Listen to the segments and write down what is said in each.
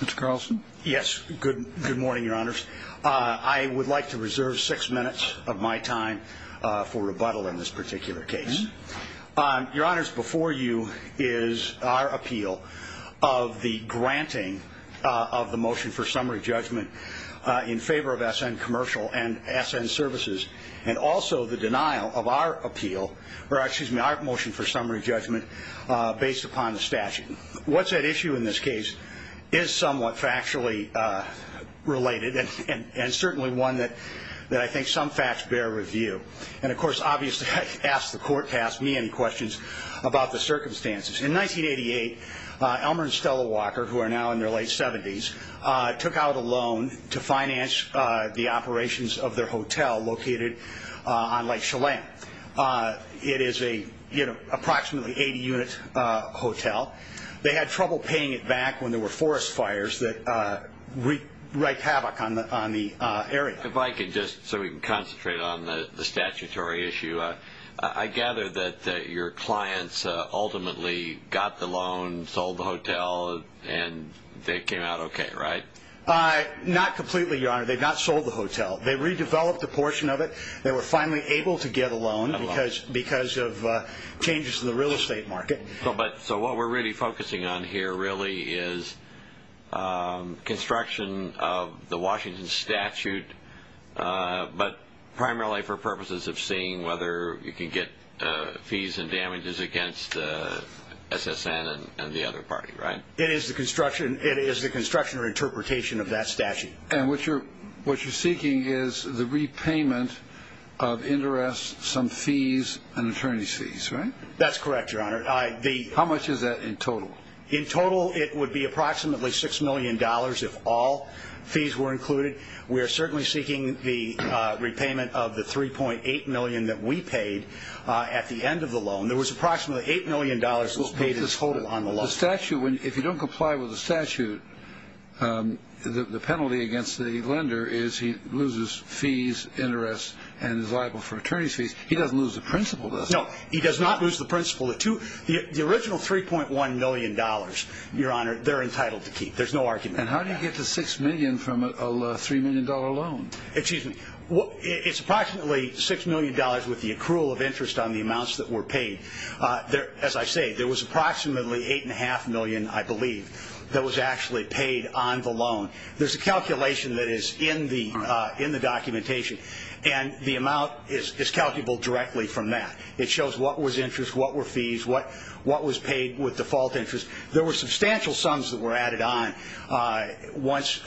Mr. Carlson? Yes, good morning, Your Honors. I would like to reserve six minutes of my time for rebuttal in this particular case. Your Honors, before you is our appeal of the granting of the motion for summary judgment in favor of SN Commercial and SN Services, and also the denial of our appeal, or excuse me, our motion for summary judgment based upon the statute. What's at issue in this case is somewhat factually related, and certainly one that I think some facts bear review. And of course, obviously, I asked the court, asked me any questions about the circumstances. In 1988, Elmer and Stella Walker, who are now in their late 70s, took out a loan to finance the operations of their hotel located on Lake Chelan. It is an approximately 80-unit hotel. They had trouble paying it back when there were forest fires that wreaked havoc on the area. If I could, just so we can concentrate on the statutory issue, I gather that your clients ultimately got the loan, sold the hotel, and they came out okay, right? Not completely, Your Honor. They had not sold the hotel. They redeveloped a portion of it. They were finally able to get a loan because of changes to the real estate market. So what we're really focusing on here really is construction of the Washington statute, but primarily for purposes of seeing whether you can get fees and damages against SSN and the other party, right? It is the construction or interpretation of that statute. And what you're seeking is the repayment of interest, some fees, and attorney's fees, right? That's correct, Your Honor. How much is that in total? In total, it would be approximately $6 million if all fees were included. We are certainly seeking the repayment of the $3.8 million that we paid at the end of the loan. There was approximately $8 million that was paid in total on the loan. So the statute, if you don't comply with the statute, the penalty against the lender is he loses fees, interest, and is liable for attorney's fees. He doesn't lose the principal, does he? No, he does not lose the principal. The original $3.1 million, Your Honor, they're entitled to keep. There's no argument on that. And how do you get the $6 million from a $3 million loan? Excuse me. It's approximately $6 million with the accrual of interest on the amounts that were paid. As I say, there was approximately $8.5 million, I believe, that was actually paid on the loan. There's a calculation that is in the documentation, and the amount is calculable directly from that. It shows what was interest, what were fees, what was paid with default interest. There were substantial sums that were added on once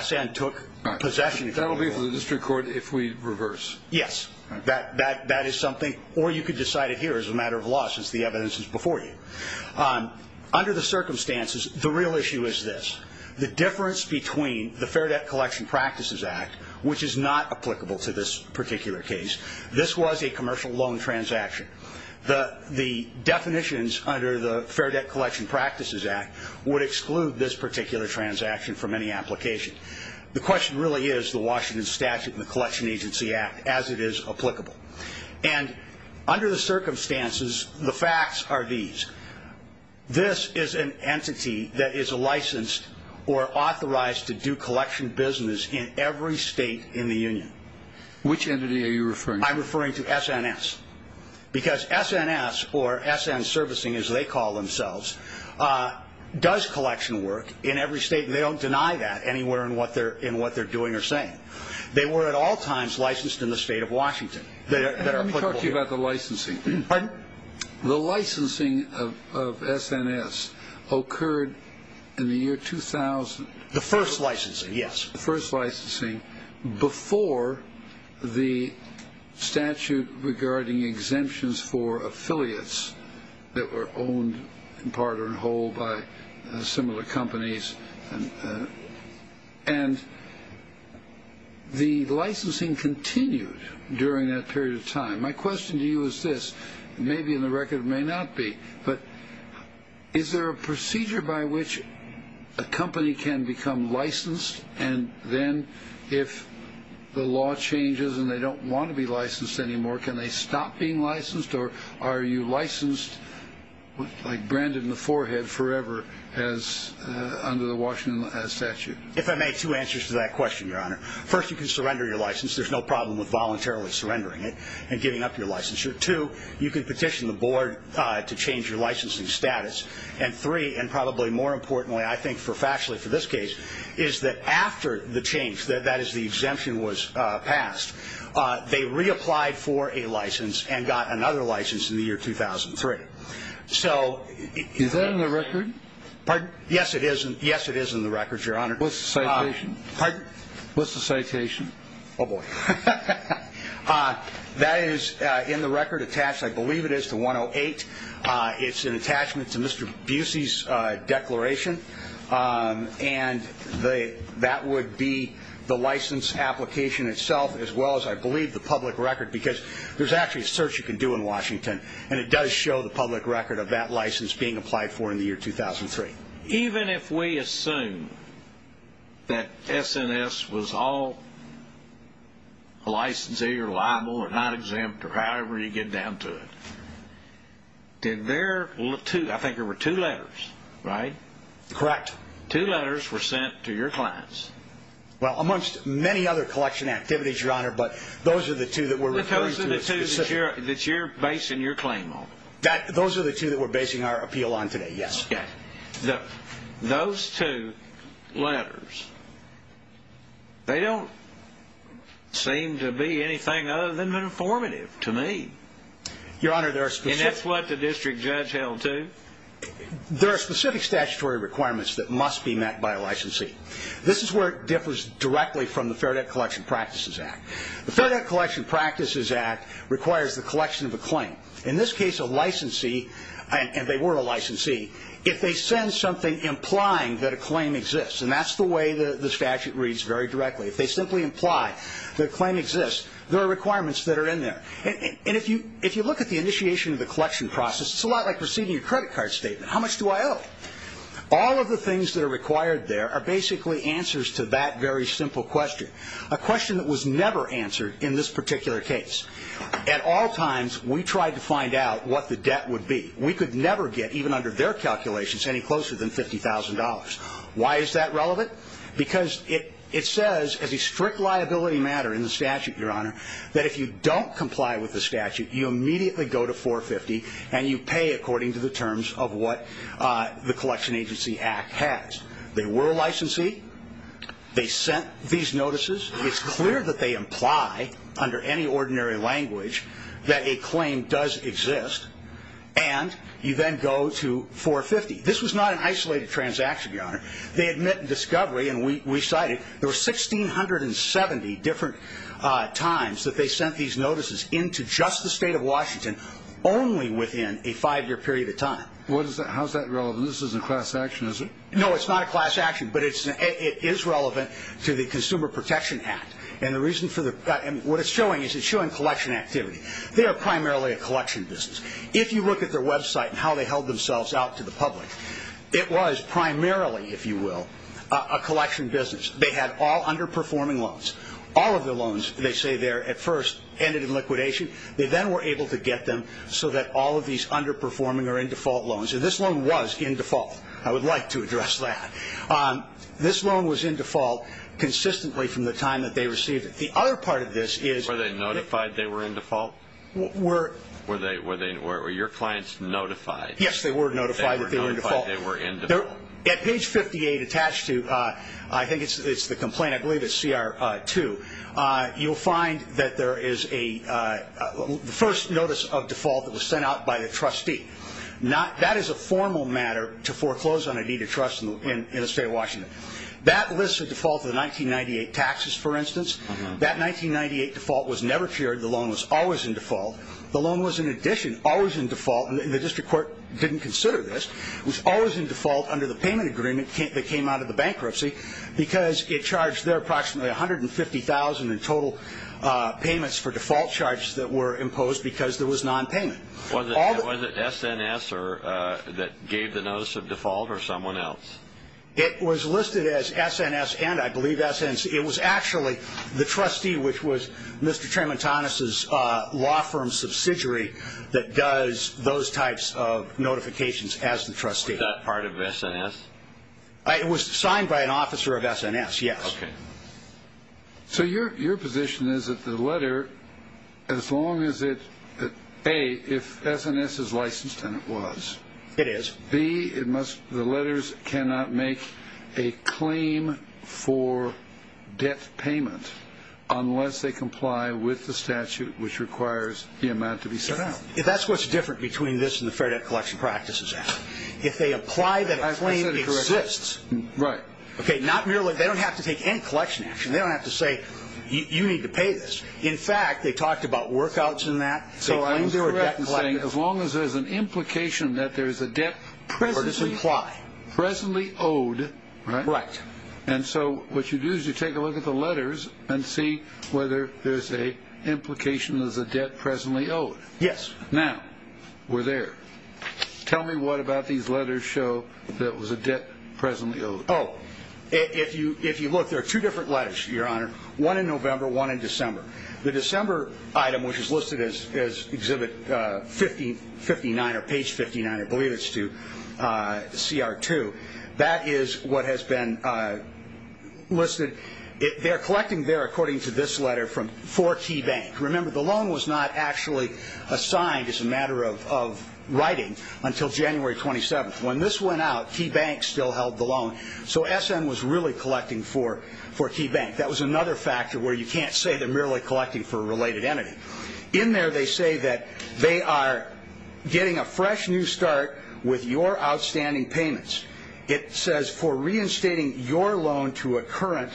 SN took possession. That will be for the district court if we reverse. Yes, that is something, or you could decide it here as a matter of law since the evidence is before you. Under the circumstances, the real issue is this. The difference between the Fair Debt Collection Practices Act, which is not applicable to this particular case, this was a commercial loan transaction. The definitions under the Fair Debt Collection Practices Act would exclude this particular transaction from any application. The question really is the Washington Statute and the Collection Agency Act as it is applicable. And under the circumstances, the facts are these. This is an entity that is licensed or authorized to do collection business in every state in the union. Which entity are you referring to? I'm referring to SNS because SNS, or SN Servicing as they call themselves, does collection work in every state. They don't deny that anywhere in what they're doing or saying. They were at all times licensed in the state of Washington. Let me talk to you about the licensing. Pardon? The licensing of SNS occurred in the year 2000. The first licensing, yes. The first licensing before the statute regarding exemptions for affiliates that were owned in part or in whole by similar companies. And the licensing continued during that period of time. My question to you is this. It may be in the record, it may not be. But is there a procedure by which a company can become licensed? And then if the law changes and they don't want to be licensed anymore, can they stop being licensed? Or are you licensed like branded in the forehead forever under the Washington Statute? If I may, two answers to that question, Your Honor. First, you can surrender your license. There's no problem with voluntarily surrendering it and giving up your licensure. Two, you can petition the board to change your licensing status. And three, and probably more importantly, I think factually for this case, is that after the change, that is the exemption was passed, they reapplied for a license and got another license in the year 2003. Is that in the record? Pardon? Yes, it is in the record, Your Honor. What's the citation? Pardon? What's the citation? Oh, boy. That is in the record attached, I believe it is, to 108. It's an attachment to Mr. Busey's declaration. And that would be the license application itself as well as, I believe, the public record, because there's actually a search you can do in Washington, and it does show the public record of that license being applied for in the year 2003. Even if we assume that SNS was all licensee or liable or not exempt or however you get down to it, did their two, I think there were two letters, right? Correct. Two letters were sent to your clients. Well, amongst many other collection activities, Your Honor, but those are the two that we're referring to. Those are the two that you're basing your claim on. Those are the two that we're basing our appeal on today, yes. Okay. Those two letters, they don't seem to be anything other than informative to me. Your Honor, there are specific – And that's what the district judge held too? There are specific statutory requirements that must be met by a licensee. This is where it differs directly from the Fair Debt Collection Practices Act. The Fair Debt Collection Practices Act requires the collection of a claim. In this case, a licensee, and they were a licensee, if they send something implying that a claim exists, and that's the way the statute reads very directly. If they simply imply that a claim exists, there are requirements that are in there. And if you look at the initiation of the collection process, it's a lot like receiving your credit card statement. How much do I owe? All of the things that are required there are basically answers to that very simple question, a question that was never answered in this particular case. At all times, we tried to find out what the debt would be. We could never get, even under their calculations, any closer than $50,000. Why is that relevant? Because it says as a strict liability matter in the statute, Your Honor, that if you don't comply with the statute, you immediately go to 450, and you pay according to the terms of what the Collection Agency Act has. They were a licensee. They sent these notices. It's clear that they imply, under any ordinary language, that a claim does exist, and you then go to 450. This was not an isolated transaction, Your Honor. They admit in discovery, and we cite it, there were 1,670 different times that they sent these notices into just the state of Washington, only within a five-year period of time. How is that relevant? This isn't class action, is it? No, it's not a class action, but it is relevant to the Consumer Protection Act, and what it's showing is it's showing collection activity. They are primarily a collection business. If you look at their website and how they held themselves out to the public, it was primarily, if you will, a collection business. They had all underperforming loans. All of their loans, they say there, at first ended in liquidation. They then were able to get them so that all of these underperforming are in default loans, and this loan was in default. I would like to address that. This loan was in default consistently from the time that they received it. The other part of this is- Were they notified they were in default? Were- Were your clients notified- Yes, they were notified that they were in default. They were notified they were in default. At page 58 attached to, I think it's the complaint, I believe it's CR2, you'll find that there is a first notice of default that was sent out by the trustee. That is a formal matter to foreclose on a deed of trust in the state of Washington. That lists a default of the 1998 taxes, for instance. That 1998 default was never cleared. The loan was always in default. The loan was, in addition, always in default, and the district court didn't consider this, was always in default under the payment agreement that came out of the bankruptcy because it charged their approximately $150,000 in total payments for default charges that were imposed because there was nonpayment. Was it SNS that gave the notice of default or someone else? It was listed as SNS and, I believe, SNC. It was actually the trustee, which was Mr. Trementanus's law firm subsidiary, that does those types of notifications as the trustee. Was that part of SNS? It was signed by an officer of SNS, yes. Okay. So your position is that the letter, as long as it, A, if SNS is licensed, and it was. It is. B, the letters cannot make a claim for debt payment unless they comply with the statute, which requires the amount to be set out. That's what's different between this and the Fair Debt Collection Practices Act. If they apply that claim, it exists. Right. They don't have to take any collection action. They don't have to say, you need to pay this. In fact, they talked about workouts in that. So I'm correct in saying as long as there's an implication that there's a debt presently owed. Right. And so what you do is you take a look at the letters and see whether there's an implication there's a debt presently owed. Yes. Now, we're there. Tell me what about these letters show that there was a debt presently owed. Oh, if you look, there are two different letters, Your Honor, one in November, one in December. The December item, which is listed as Exhibit 59 or Page 59, I believe it's to CR2, that is what has been listed. They're collecting there, according to this letter, from four key banks. Remember, the loan was not actually assigned as a matter of writing until January 27th. When this went out, key banks still held the loan. So SM was really collecting for key banks. That was another factor where you can't say they're merely collecting for a related entity. In there, they say that they are getting a fresh new start with your outstanding payments. It says for reinstating your loan to a current,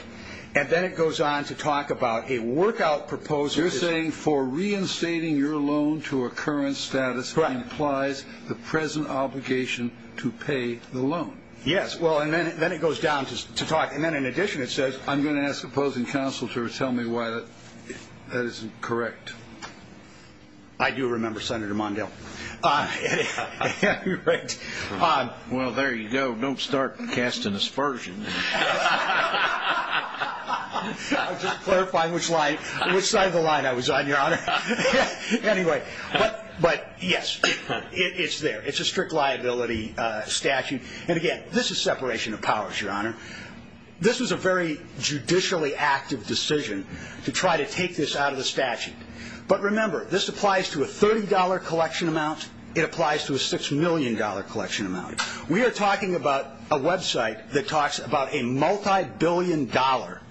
and then it goes on to talk about a workout proposal. You're saying for reinstating your loan to a current status implies the present obligation to pay the loan. Yes. Well, and then it goes down to talk. And then, in addition, it says I'm going to ask opposing counsel to tell me why that isn't correct. I do remember, Senator Mondale. Well, there you go. Don't start casting aspersions. I was just clarifying which side of the line I was on, Your Honor. Anyway, but, yes, it's there. It's a strict liability statute. And, again, this is separation of powers, Your Honor. This was a very judicially active decision to try to take this out of the statute. But, remember, this applies to a $30 collection amount. It applies to a $6 million collection amount. We are talking about a website that talks about a multibillion-dollar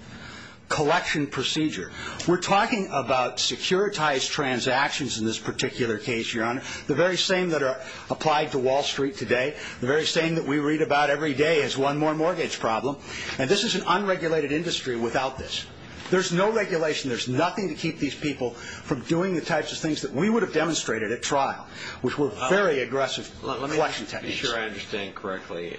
collection procedure. We're talking about securitized transactions in this particular case, Your Honor. The very same that are applied to Wall Street today, the very same that we read about every day as one more mortgage problem. And this is an unregulated industry without this. There's no regulation. There's nothing to keep these people from doing the types of things that we would have demonstrated at trial, which were very aggressive collection techniques. I'm not sure I understand correctly.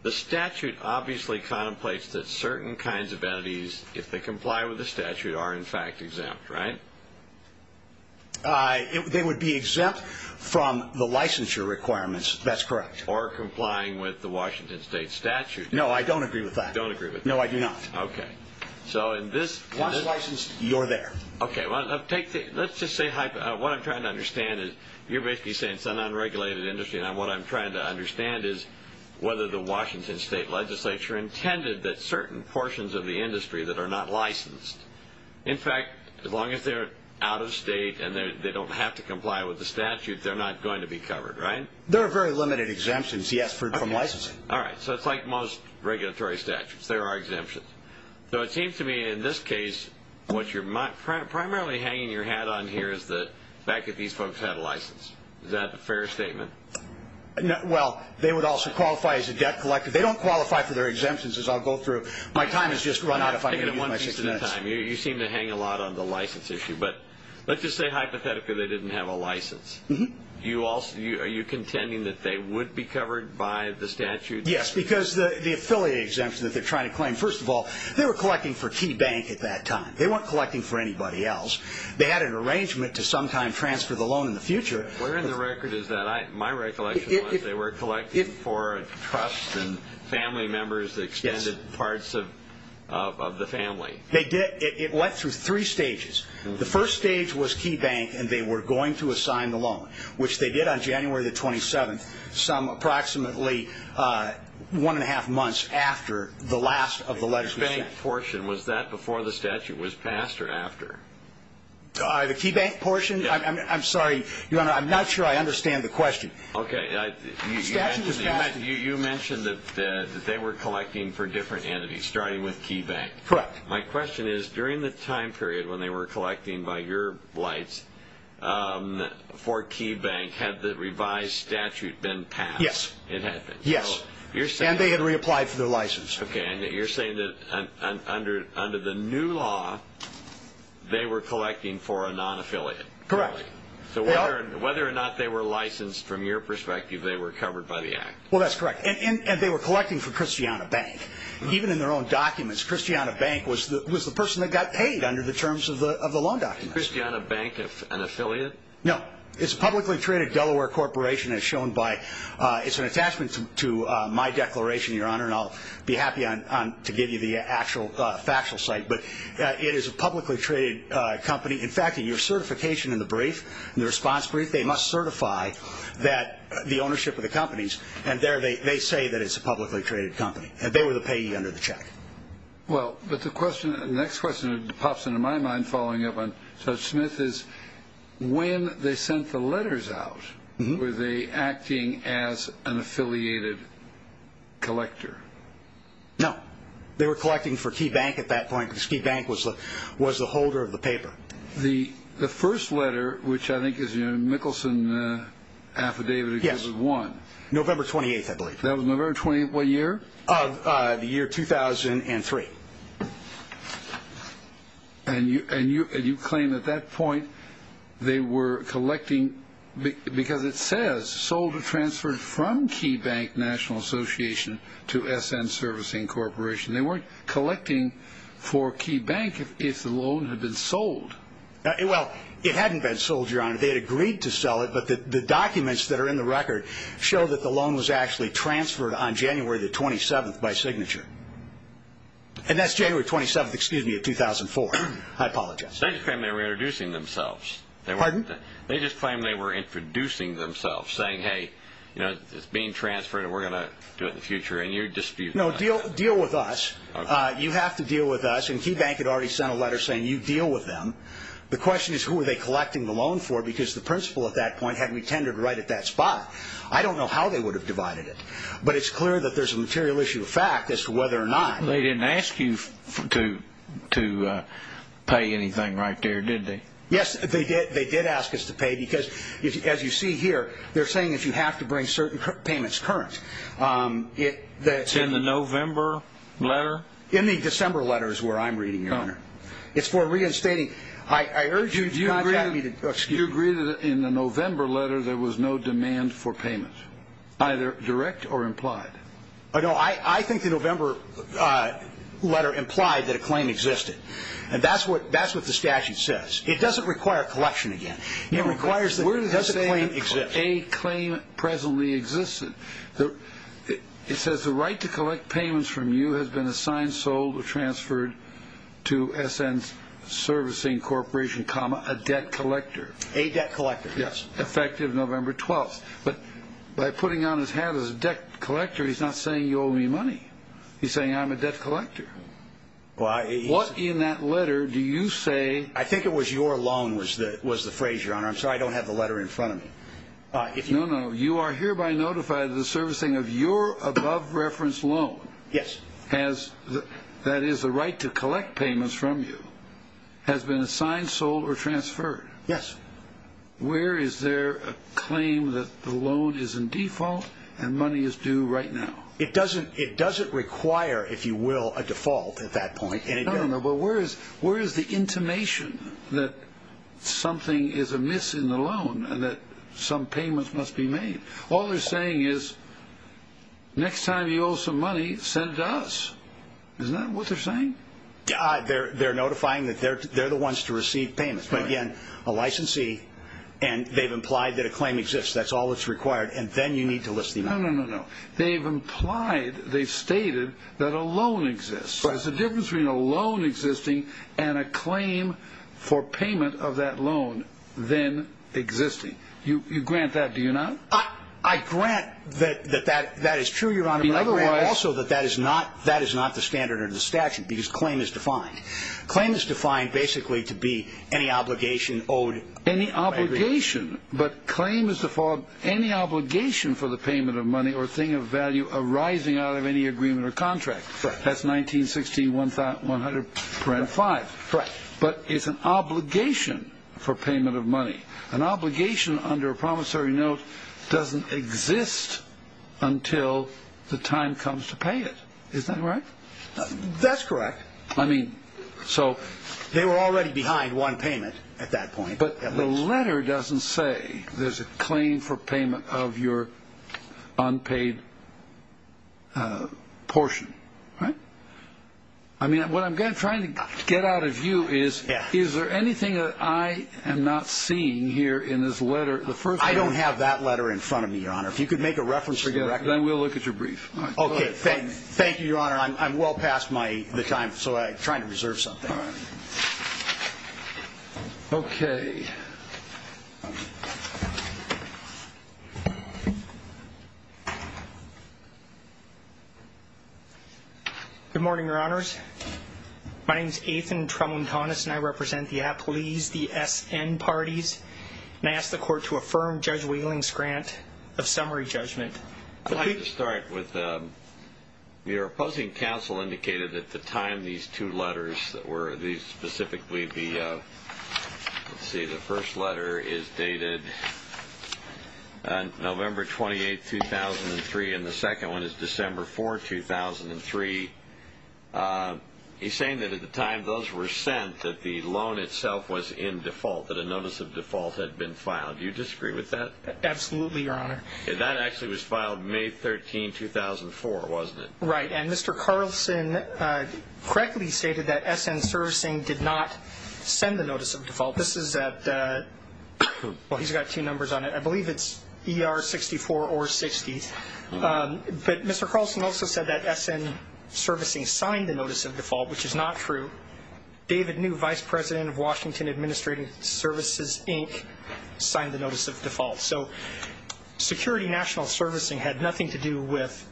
The statute obviously contemplates that certain kinds of entities, if they comply with the statute, are in fact exempt, right? They would be exempt from the licensure requirements. That's correct. Or complying with the Washington State statute. No, I don't agree with that. You don't agree with that? No, I do not. Okay. Once licensed, you're there. Okay. Let's just say what I'm trying to understand is you're basically saying it's an unregulated industry. And what I'm trying to understand is whether the Washington State legislature intended that certain portions of the industry that are not licensed, in fact, as long as they're out of state and they don't have to comply with the statute, they're not going to be covered, right? There are very limited exemptions, yes, from licensing. All right. So it's like most regulatory statutes. There are exemptions. So it seems to me in this case what you're primarily hanging your hat on here is the fact that these folks had a license. Is that a fair statement? Well, they would also qualify as a debt collector. They don't qualify for their exemptions, as I'll go through. My time has just run out if I'm going to use my 16 minutes. You seem to hang a lot on the license issue. But let's just say hypothetically they didn't have a license. Are you contending that they would be covered by the statute? Yes, because the affiliate exemption that they're trying to claim, first of all, they were collecting for Key Bank at that time. They weren't collecting for anybody else. They had an arrangement to sometime transfer the loan in the future. Where in the record is that? My recollection was they were collecting for a trust and family members, extended parts of the family. They did. It went through three stages. Which they did on January the 27th, approximately one and a half months after the last of the legislative session. The Key Bank portion, was that before the statute was passed or after? The Key Bank portion? I'm sorry. I'm not sure I understand the question. Okay. You mentioned that they were collecting for different entities, starting with Key Bank. Correct. My question is, during the time period when they were collecting by your blights for Key Bank, had the revised statute been passed? Yes. It had been. Yes. And they had reapplied for their license. Okay. And you're saying that under the new law, they were collecting for a non-affiliate. Correct. So whether or not they were licensed from your perspective, they were covered by the act. Well, that's correct. And they were collecting for Christiana Bank. Even in their own documents, Christiana Bank was the person that got paid under the terms of the loan documents. Christiana Bank, an affiliate? No. It's a publicly traded Delaware corporation as shown by, it's an attachment to my declaration, Your Honor, and I'll be happy to give you the actual factual site, but it is a publicly traded company. In fact, in your certification in the brief, in the response brief, they must certify the ownership of the companies. And there they say that it's a publicly traded company. And they were the payee under the check. Well, but the question, the next question that pops into my mind following up on Judge Smith is, when they sent the letters out, were they acting as an affiliated collector? No. They were collecting for Key Bank at that point because Key Bank was the holder of the paper. The first letter, which I think is your Mickelson affidavit. Yes. It was one. November 28th, I believe. November 28th, what year? The year 2003. And you claim at that point they were collecting because it says sold or transferred from Key Bank National Association to S.N. Servicing Corporation. They weren't collecting for Key Bank if the loan had been sold. Well, it hadn't been sold, Your Honor. They had agreed to sell it, but the documents that are in the record show that the loan was actually transferred on January the 27th by signature. And that's January 27th of 2004. I apologize. They just claim they were introducing themselves. Pardon? They just claim they were introducing themselves, saying, hey, it's being transferred, and we're going to do it in the future. And you're disputing that. No, deal with us. You have to deal with us. And Key Bank had already sent a letter saying you deal with them. The question is who were they collecting the loan for because the principal at that point had retended right at that spot. I don't know how they would have divided it, but it's clear that there's a material issue of fact as to whether or not. They didn't ask you to pay anything right there, did they? Yes, they did. They did ask us to pay because, as you see here, they're saying that you have to bring certain payments current. It's in the November letter? In the December letter is where I'm reading, Your Honor. It's for reinstating. I urge you to contact me. Do you agree that in the November letter there was no demand for payment, either direct or implied? No, I think the November letter implied that a claim existed, and that's what the statute says. It doesn't require collection again. It requires that a claim exists. It says the right to collect payments from you has been assigned, sold, or transferred to S.N. Servicing Corporation, a debt collector. A debt collector, yes. Effective November 12th. But by putting on his hat as a debt collector, he's not saying you owe me money. He's saying I'm a debt collector. What in that letter do you say? I think it was your loan was the phrase, Your Honor. I'm sorry, I don't have the letter in front of me. No, no. You are hereby notified of the servicing of your above-reference loan. Yes. That is, the right to collect payments from you has been assigned, sold, or transferred. Yes. Where is there a claim that the loan is in default and money is due right now? It doesn't require, if you will, a default at that point. No, no, no. But where is the intimation that something is amiss in the loan and that some payments must be made? All they're saying is, Next time you owe some money, send it to us. Isn't that what they're saying? They're notifying that they're the ones to receive payments. But again, a licensee and they've implied that a claim exists. That's all that's required. And then you need to list the amount. No, no, no, no. They've implied, they've stated that a loan exists. There's a difference between a loan existing and a claim for payment of that loan then existing. You grant that, do you not? I grant that that is true, Your Honor. But I grant also that that is not the standard or the statute because claim is defined. Claim is defined basically to be any obligation owed. Any obligation. But claim is default, any obligation for the payment of money or thing of value arising out of any agreement or contract. That's 1916 100.5. Correct. But it's an obligation for payment of money. An obligation under a promissory note doesn't exist until the time comes to pay it. Isn't that right? That's correct. I mean, so. They were already behind one payment at that point. But the letter doesn't say there's a claim for payment of your unpaid portion, right? I mean, what I'm trying to get out of you is, is there anything that I am not seeing here in this letter? I don't have that letter in front of me, Your Honor. If you could make a reference to the record. Then we'll look at your brief. Okay. Thank you, Your Honor. I'm well past the time, so I'm trying to reserve something. All right. Okay. Good morning, Your Honors. My name is Ethan Tremontanus, and I represent the Aplese, the SN parties. And I ask the Court to affirm Judge Wheeling's grant of summary judgment. I'd like to start with your opposing counsel indicated at the time these two letters were, these specifically the, let's see, the first letter is dated November 28, 2003, and the second one is December 4, 2003. He's saying that at the time those were sent that the loan itself was in default, that a notice of default had been filed. Do you disagree with that? Absolutely, Your Honor. That actually was filed May 13, 2004, wasn't it? Right. And Mr. Carlson correctly stated that SN Servicing did not send the notice of default. This is at, well, he's got two numbers on it. I believe it's ER 64 or 60. But Mr. Carlson also said that SN Servicing signed the notice of default, which is not true. David New, Vice President of Washington Administrative Services, Inc., signed the notice of default. So Security National Servicing had nothing to do with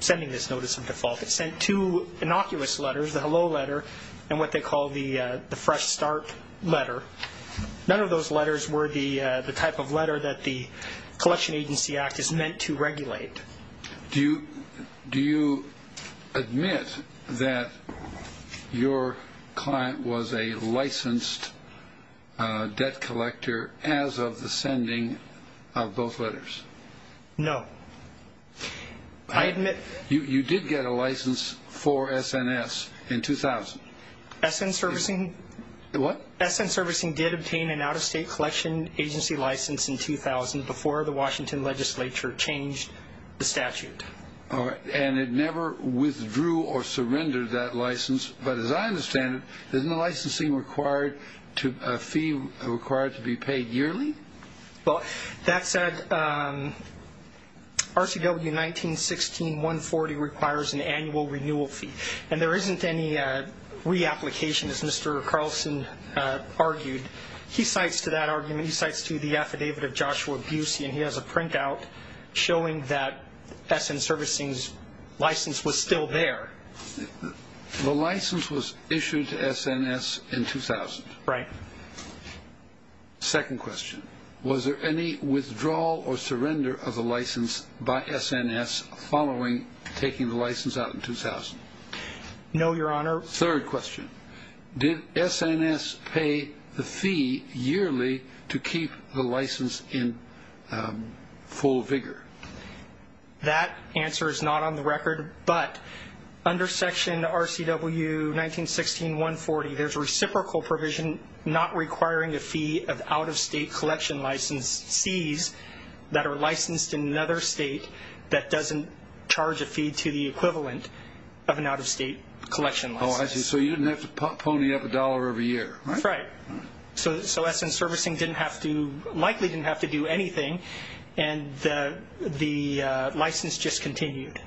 sending this notice of default. It sent two innocuous letters, the hello letter and what they call the fresh start letter. None of those letters were the type of letter that the Collection Agency Act is meant to regulate. Do you admit that your client was a licensed debt collector as of the sending of both letters? No. You did get a license for SNS in 2000. SN Servicing did obtain an out-of-state collection agency license in 2000 before the Washington legislature changed the statute. All right. And it never withdrew or surrendered that license. But as I understand it, isn't the licensing required to a fee required to be paid yearly? Well, that said, RCW 1916-140 requires an annual renewal fee. And there isn't any reapplication, as Mr. Carlson argued. He cites to that argument, he cites to the affidavit of Joshua Busey, and he has a printout showing that SN Servicing's license was still there. The license was issued to SNS in 2000. Right. Second question, was there any withdrawal or surrender of the license by SNS following taking the license out in 2000? No, Your Honor. Third question, did SNS pay the fee yearly to keep the license in full vigor? That answer is not on the record. But under Section RCW 1916-140, there's a reciprocal provision not requiring a fee of out-of-state collection license fees that are licensed in another state that doesn't charge a fee to the equivalent of an out-of-state collection license. Oh, I see. So you didn't have to pony up a dollar every year, right? That's right. So SN Servicing likely didn't have to do anything, and the license just continued.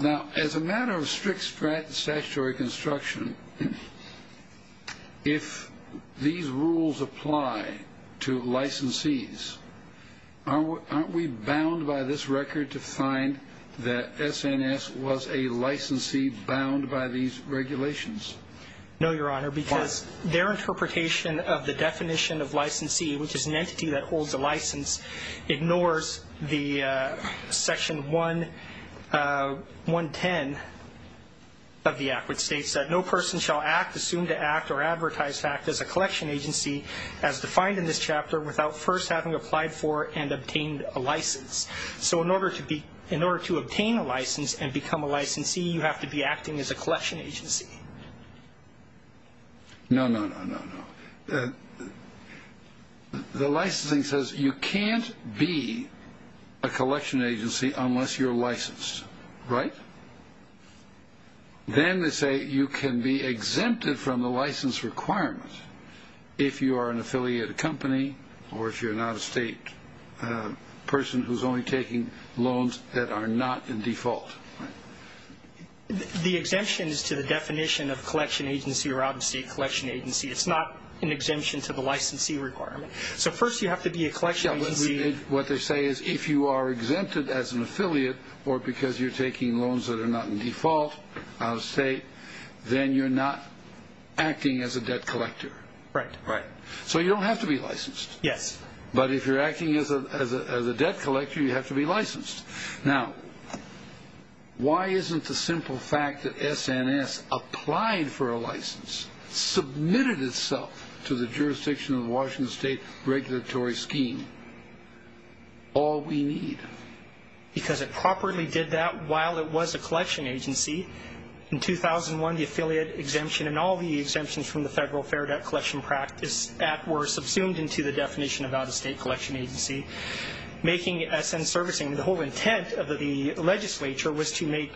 Now, as a matter of strict statutory construction, if these rules apply to licensees, aren't we bound by this record to find that SNS was a licensee bound by these regulations? No, Your Honor. Why? Because their interpretation of the definition of licensee, which is an entity that holds a license, ignores the Section 110 of the Act, which states that no person shall act, assume to act, or advertise to act as a collection agency as defined in this chapter without first having applied for and obtained a license. So in order to obtain a license and become a licensee, you have to be acting as a collection agency. No, no, no, no, no. The licensing says you can't be a collection agency unless you're licensed, right? Then they say you can be exempted from the license requirement if you are an affiliated company or if you're an out-of-state person who's only taking loans that are not in default. The exemption is to the definition of collection agency or out-of-state collection agency. It's not an exemption to the licensee requirement. So first you have to be a collection agency. What they say is if you are exempted as an affiliate or because you're taking loans that are not in default, out-of-state, then you're not acting as a debt collector. Right. Right. So you don't have to be licensed. Yes. But if you're acting as a debt collector, you have to be licensed. Now, why isn't the simple fact that SNS applied for a license, submitted itself to the jurisdiction of the Washington State regulatory scheme, all we need? Because it properly did that while it was a collection agency. In 2001, the affiliate exemption and all the exemptions from the Federal Fair Debt Collection Practice Act were subsumed into the definition of out-of-state collection agency, making SNS servicing. The whole intent of the legislature was to make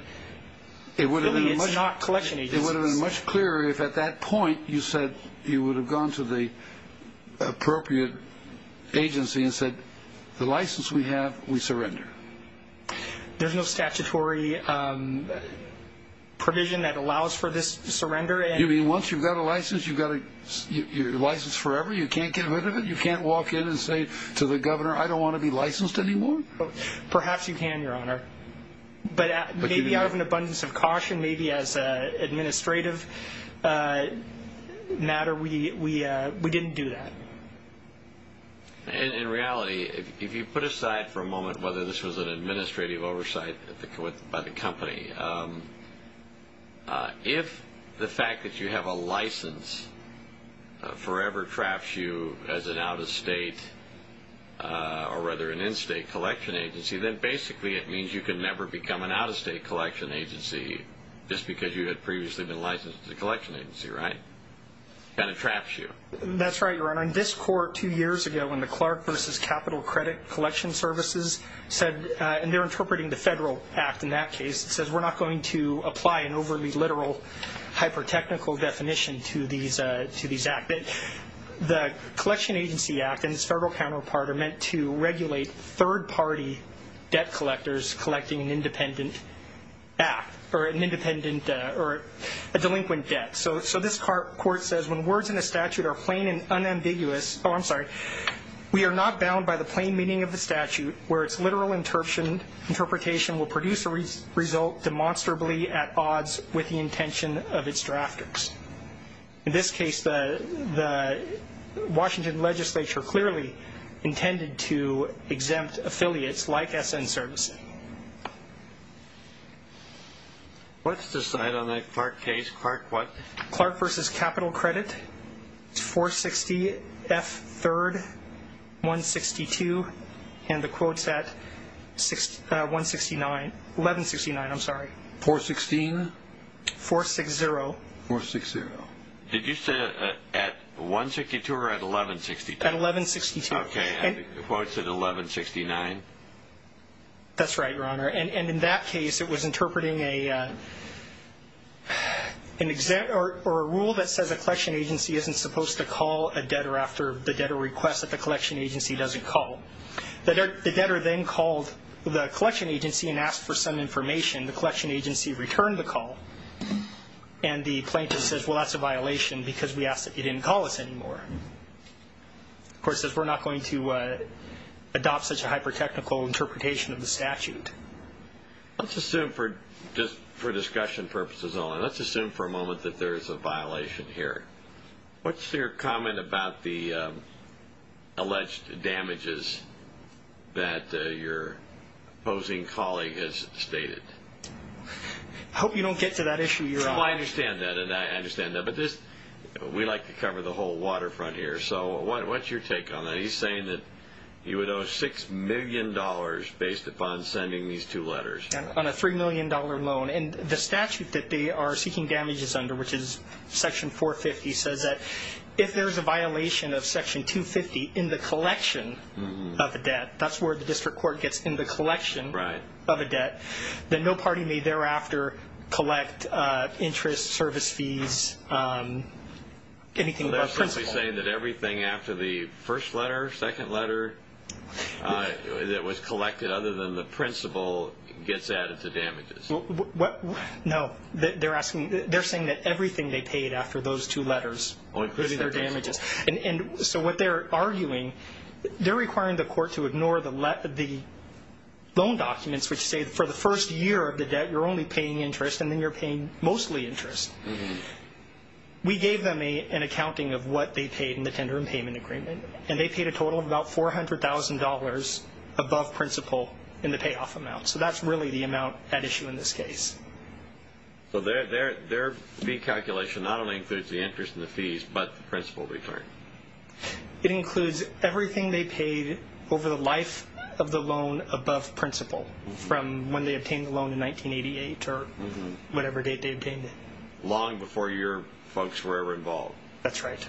affiliates not collection agencies. It would have been much clearer if at that point you said you would have gone to the appropriate agency and said the license we have, we surrender. There's no statutory provision that allows for this surrender. You mean once you've got a license, you're licensed forever? You can't get rid of it? You can't walk in and say to the governor, I don't want to be licensed anymore? Perhaps you can, Your Honor. But maybe out of an abundance of caution, maybe as an administrative matter, we didn't do that. In reality, if you put aside for a moment whether this was an administrative oversight by the company, if the fact that you have a license forever traps you as an out-of-state or rather an in-state collection agency, then basically it means you can never become an out-of-state collection agency just because you had previously been licensed as a collection agency, right? It kind of traps you. That's right, Your Honor. In this court two years ago when the Clark v. Capital Credit Collection Services said, and they're interpreting the federal act in that case, it says we're not going to apply an overly literal, hyper-technical definition to these acts. The Collection Agency Act and its federal counterpart are meant to regulate third-party debt collectors collecting an independent act or a delinquent debt. So this court says when words in a statute are plain and unambiguous, we are not bound by the plain meaning of the statute where its literal interpretation will produce a result demonstrably at odds with the intention of its drafters. In this case, the Washington legislature clearly intended to exempt affiliates like S.N. Services. Let's decide on a Clark case. Clark what? F3rd 162 and the quotes at 1169. I'm sorry. 416? 460. 460. Did you say at 162 or at 1162? At 1162. And the quotes at 1169? That's right, Your Honor. And in that case, it was interpreting a rule that says a collection agency isn't supposed to call a debtor after the debtor requests that the collection agency doesn't call. The debtor then called the collection agency and asked for some information. The collection agency returned the call, and the plaintiff says, well, that's a violation because we asked that you didn't call us anymore. The court says we're not going to adopt such a hyper-technical interpretation of the statute. Let's assume for discussion purposes only, let's assume for a moment that there is a violation here. What's your comment about the alleged damages that your opposing colleague has stated? I hope you don't get to that issue, Your Honor. Well, I understand that, and I understand that. But we like to cover the whole waterfront here. So what's your take on that? He's saying that he would owe $6 million based upon sending these two letters. On a $3 million loan. And the statute that they are seeking damages under, which is Section 450, says that if there's a violation of Section 250 in the collection of a debt, that's where the district court gets in the collection of a debt, that no party may thereafter collect interest, service fees, anything above principle. So they're simply saying that everything after the first letter, second letter, that was collected other than the principle gets added to damages? No. They're saying that everything they paid after those two letters is their damages. And so what they're arguing, they're requiring the court to ignore the loan documents which say for the first year of the debt you're only paying interest and then you're paying mostly interest. We gave them an accounting of what they paid in the tender and payment agreement, and they paid a total of about $400,000 above principle in the payoff amount. So that's really the amount at issue in this case. So their fee calculation not only includes the interest and the fees, but the principle return. It includes everything they paid over the life of the loan above principle from when they obtained the loan in 1988 or whatever date they obtained it. Long before your folks were ever involved. That's right.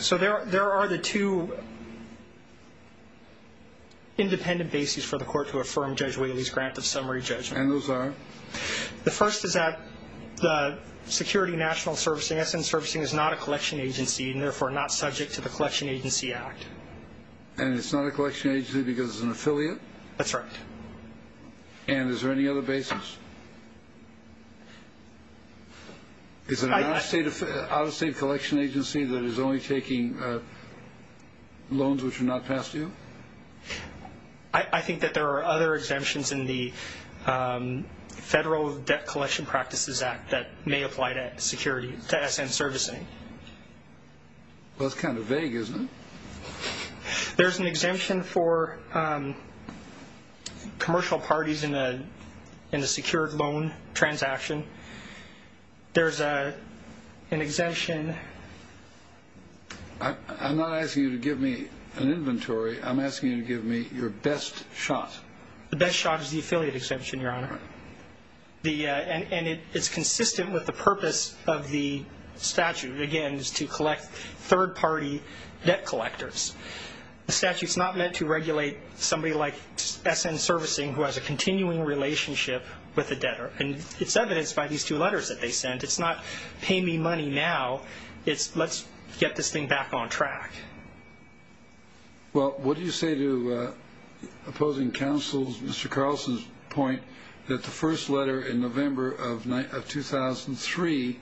So there are the two independent bases for the court to affirm Judge Whaley's grant of summary judgment. And those are? The first is that the Security National Servicing, SM Servicing, is not a collection agency and therefore not subject to the Collection Agency Act. And it's not a collection agency because it's an affiliate? That's right. And is there any other basis? Is it an out-of-state collection agency that is only taking loans which are not past due? I think that there are other exemptions in the Federal Debt Collection Practices Act that may apply to SM Servicing. Well, it's kind of vague, isn't it? There's an exemption for commercial parties in a secured loan transaction. There's an exemption. I'm not asking you to give me an inventory. I'm asking you to give me your best shot. The best shot is the affiliate exemption, Your Honor. And it's consistent with the purpose of the statute. Again, it's to collect third-party debt collectors. The statute's not meant to regulate somebody like SM Servicing who has a continuing relationship with a debtor. And it's evidenced by these two letters that they sent. It's not pay me money now. It's let's get this thing back on track. Well, what do you say to opposing counsel, Mr. Carlson's point, that the first letter in November of 2003,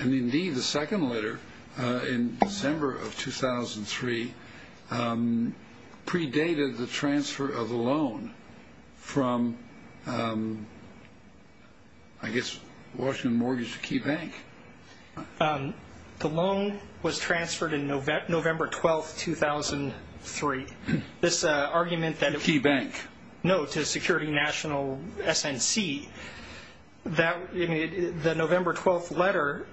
and indeed the second letter in December of 2003, predated the transfer of the loan from, I guess, Washington Mortgage to Key Bank? The loan was transferred in November 12, 2003. This argument that it was... To Key Bank. No, to Security National SNC. The November 12 letter,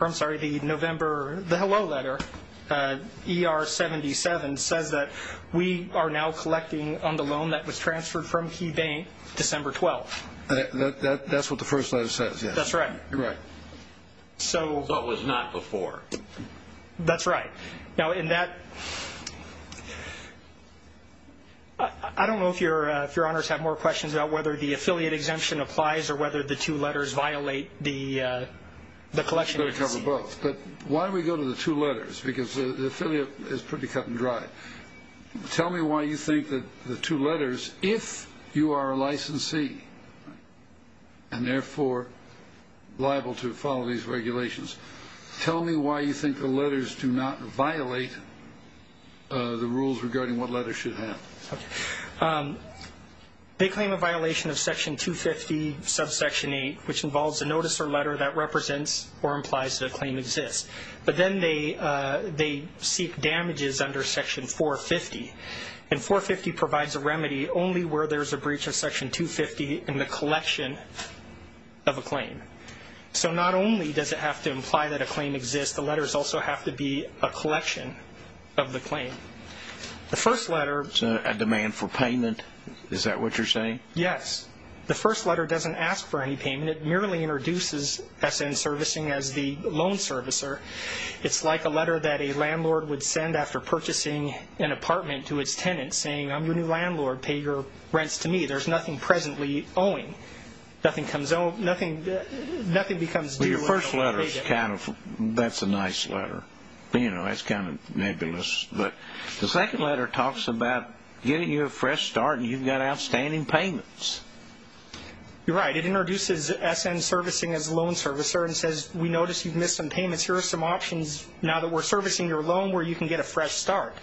or I'm sorry, the November, the hello letter, ER 77, says that we are now collecting on the loan that was transferred from Key Bank December 12. That's what the first letter says, yes. That's right. So it was not before. That's right. Now, in that... I don't know if Your Honors have more questions about whether the affiliate exemption applies or whether the two letters violate the collection agency. We're going to cover both. But why do we go to the two letters? Because the affiliate is pretty cut and dry. Tell me why you think that the two letters, if you are a licensee, and therefore liable to follow these regulations, tell me why you think the letters do not violate the rules regarding what letters should have. Okay. They claim a violation of Section 250, subsection 8, which involves a notice or letter that represents or implies that a claim exists. But then they seek damages under Section 450. And 450 provides a remedy only where there is a breach of Section 250 in the collection of a claim. So not only does it have to imply that a claim exists, the letters also have to be a collection of the claim. The first letter... It's a demand for payment. Is that what you're saying? Yes. The first letter doesn't ask for any payment. It merely introduces SN servicing as the loan servicer. It's like a letter that a landlord would send after purchasing an apartment to its tenant, saying, I'm your new landlord, pay your rents to me. There's nothing presently owing. Nothing becomes due... Well, your first letter is kind of... That's a nice letter. You know, that's kind of nebulous. But the second letter talks about getting you a fresh start and you've got outstanding payments. You're right. It introduces SN servicing as loan servicer and says, we notice you've missed some payments. Here are some options now that we're servicing your loan where you can get a fresh start.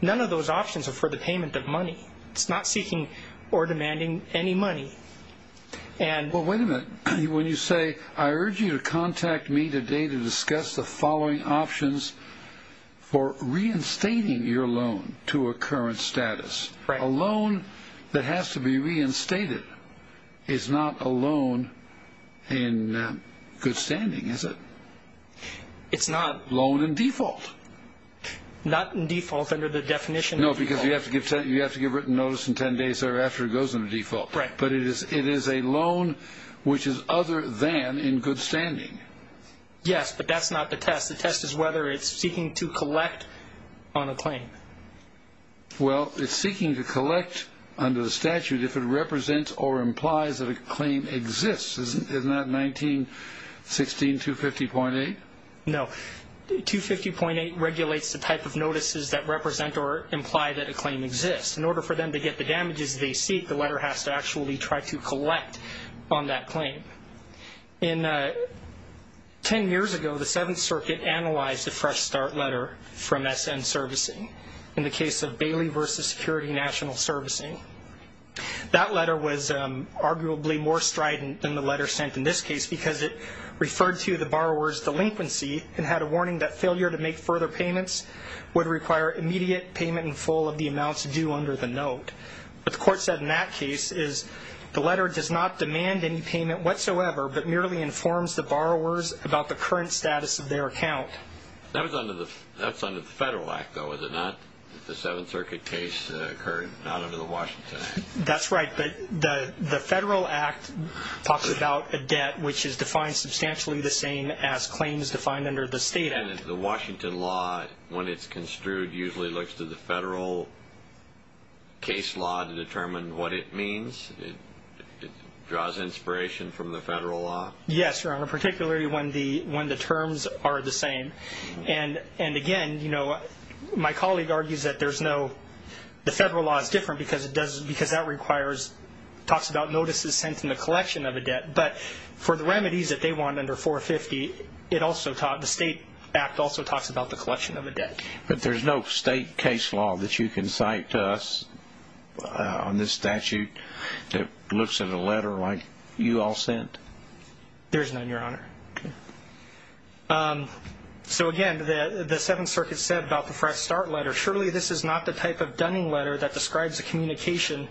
None of those options are for the payment of money. It's not seeking or demanding any money. Well, wait a minute. When you say, I urge you to contact me today to discuss the following options for reinstating your loan to a current status. A loan that has to be reinstated is not a loan in good standing, is it? It's not. A loan in default. Not in default under the definition of default. No, because you have to give written notice in 10 days thereafter it goes into default. Right. But it is a loan which is other than in good standing. Yes, but that's not the test. The test is whether it's seeking to collect on a claim. Well, it's seeking to collect under the statute if it represents or implies that a claim exists. Isn't that 1916, 250.8? No. 250.8 regulates the type of notices that represent or imply that a claim exists. In order for them to get the damages they seek, the letter has to actually try to collect on that claim. And 10 years ago, the Seventh Circuit analyzed a fresh start letter from S.N. Servicing in the case of Bailey v. Security National Servicing. That letter was arguably more strident than the letter sent in this case because it referred to the borrower's delinquency and had a warning that failure to make further payments would require immediate payment in full of the amounts due under the note. What the court said in that case is the letter does not demand any payment whatsoever but merely informs the borrowers about the current status of their account. That's under the Federal Act, though, is it not? The Seventh Circuit case occurred not under the Washington Act. That's right, but the Federal Act talks about a debt which is defined substantially the same as claims defined under the State Act. And the Washington law, when it's construed, usually looks to the Federal case law to determine what it means? It draws inspiration from the Federal law? Yes, Your Honor, particularly when the terms are the same. And, again, my colleague argues that the Federal law is different because that talks about notices sent in the collection of a debt. But for the remedies that they want under 450, the State Act also talks about the collection of a debt. But there's no state case law that you can cite to us on this statute that looks at a letter like you all sent? There is none, Your Honor. So, again, the Seventh Circuit said about the fresh start letter, surely this is not the type of dunning letter that describes the communication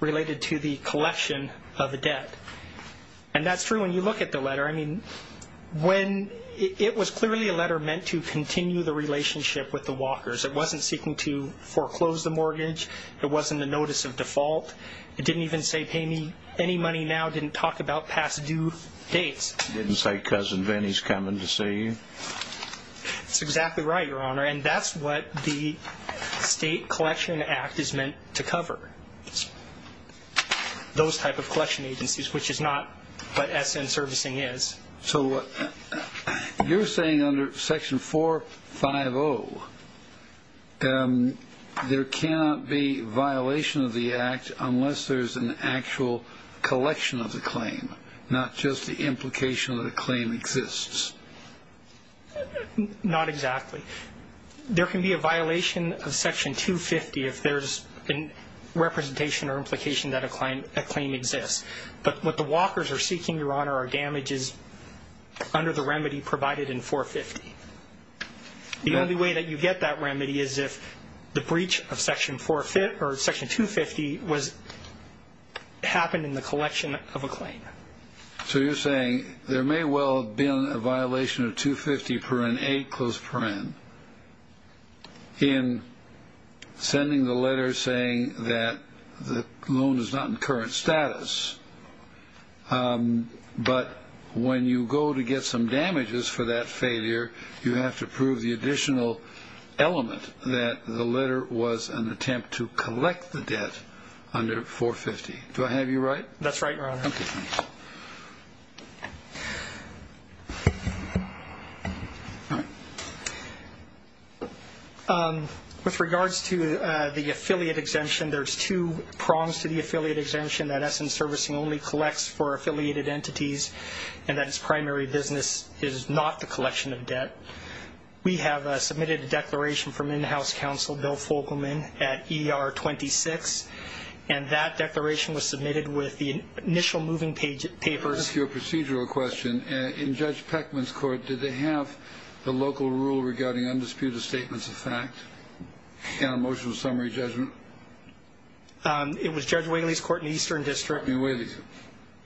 related to the collection of a debt. And that's true when you look at the letter. I mean, it was clearly a letter meant to continue the relationship with the walkers. It wasn't seeking to foreclose the mortgage. It wasn't a notice of default. It didn't even say pay me any money now. It didn't talk about past due dates. It didn't say cousin Vinnie's coming to see you. That's exactly right, Your Honor. And that's what the State Collection Act is meant to cover, those type of collection agencies, which is not what SN servicing is. So you're saying under Section 450, there cannot be violation of the act unless there's an actual collection of the claim, not just the implication that a claim exists? Not exactly. There can be a violation of Section 250 if there's a representation or implication that a claim exists. But what the walkers are seeking, Your Honor, are damages under the remedy provided in 450. The only way that you get that remedy is if the breach of Section 250 happened in the collection of a claim. So you're saying there may well have been a violation of 250, 8, in sending the letter saying that the loan is not in current status, but when you go to get some damages for that failure, you have to prove the additional element that the letter was an attempt to collect the debt under 450. Do I have you right? That's right, Your Honor. Okay. With regards to the affiliate exemption, there's two prongs to the affiliate exemption, that SN servicing only collects for affiliated entities and that its primary business is not the collection of debt. We have submitted a declaration from in-house counsel Bill Fogelman at ER 26, and that declaration was submitted with the initial moving papers. Your procedural question, in Judge Peckman's court, did they have the local rule regarding undisputed statements of fact and a motion of summary judgment? It was Judge Whaley's court in the Eastern District. Judge Whaley's.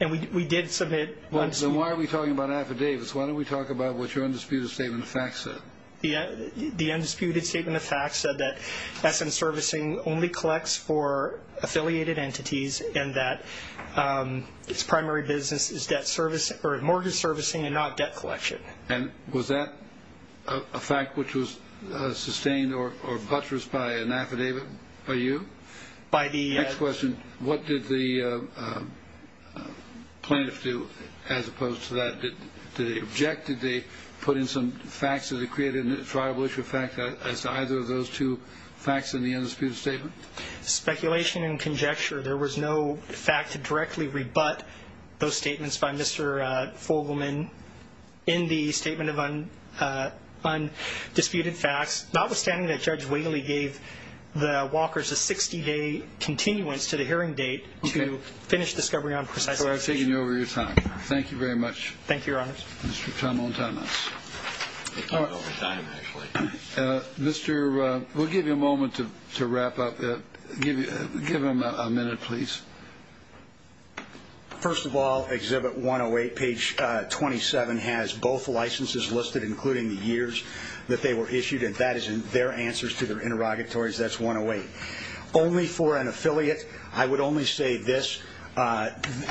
And we did submit one statement. Then why are we talking about affidavits? Why don't we talk about what your undisputed statement of facts said? The undisputed statement of facts said that SN servicing only collects for affiliated entities and that its primary business is mortgage servicing and not debt collection. And was that a fact which was sustained or buttressed by an affidavit by you? By the – Next question. What did the plaintiffs do as opposed to that? Did they object? Did they put in some facts? Did they create a tribal issue of fact as to either of those two facts in the undisputed statement? Speculation and conjecture. There was no fact to directly rebut those statements by Mr. Fogelman in the statement of undisputed facts, notwithstanding that Judge Whaley gave the Walkers a 60-day continuance to the hearing date to finish discovery on precise information. So I've taken you over your time. Thank you very much. Thank you, Your Honors. Mr. Tomontanos. I took you over time, actually. Mr. – we'll give you a moment to wrap up. Give him a minute, please. First of all, Exhibit 108, page 27, has both licenses listed, including the years that they were issued, and that is their answers to their interrogatories. That's 108. Only for an affiliate, I would only say this.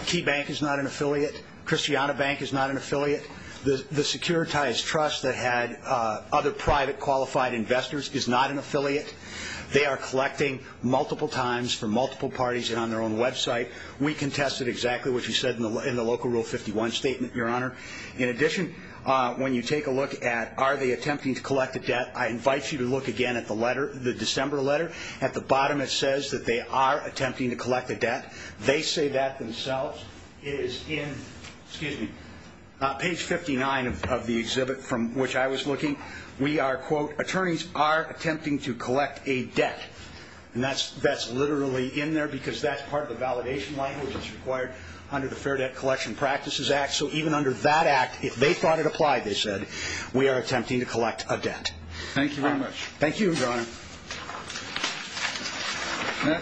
Key Bank is not an affiliate. Christiana Bank is not an affiliate. The Securitize Trust that had other private qualified investors is not an affiliate. They are collecting multiple times from multiple parties and on their own website. We contested exactly what you said in the local Rule 51 statement, Your Honor. In addition, when you take a look at are they attempting to collect a debt, I invite you to look again at the letter, the December letter. At the bottom it says that they are attempting to collect a debt. They say that themselves. It is in, excuse me, page 59 of the exhibit from which I was looking. We are, quote, attorneys are attempting to collect a debt. And that's literally in there because that's part of the validation language that's required under the Fair Debt Collection Practices Act. So even under that act, if they thought it applied, they said, we are attempting to collect a debt. Thank you very much. Thank you, Your Honor. That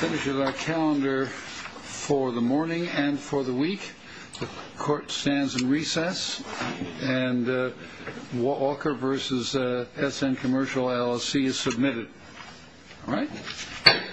finishes our calendar for the morning and for the week. The Court stands in recess. And Walker v. S.N. Commercial LLC is submitted. All right.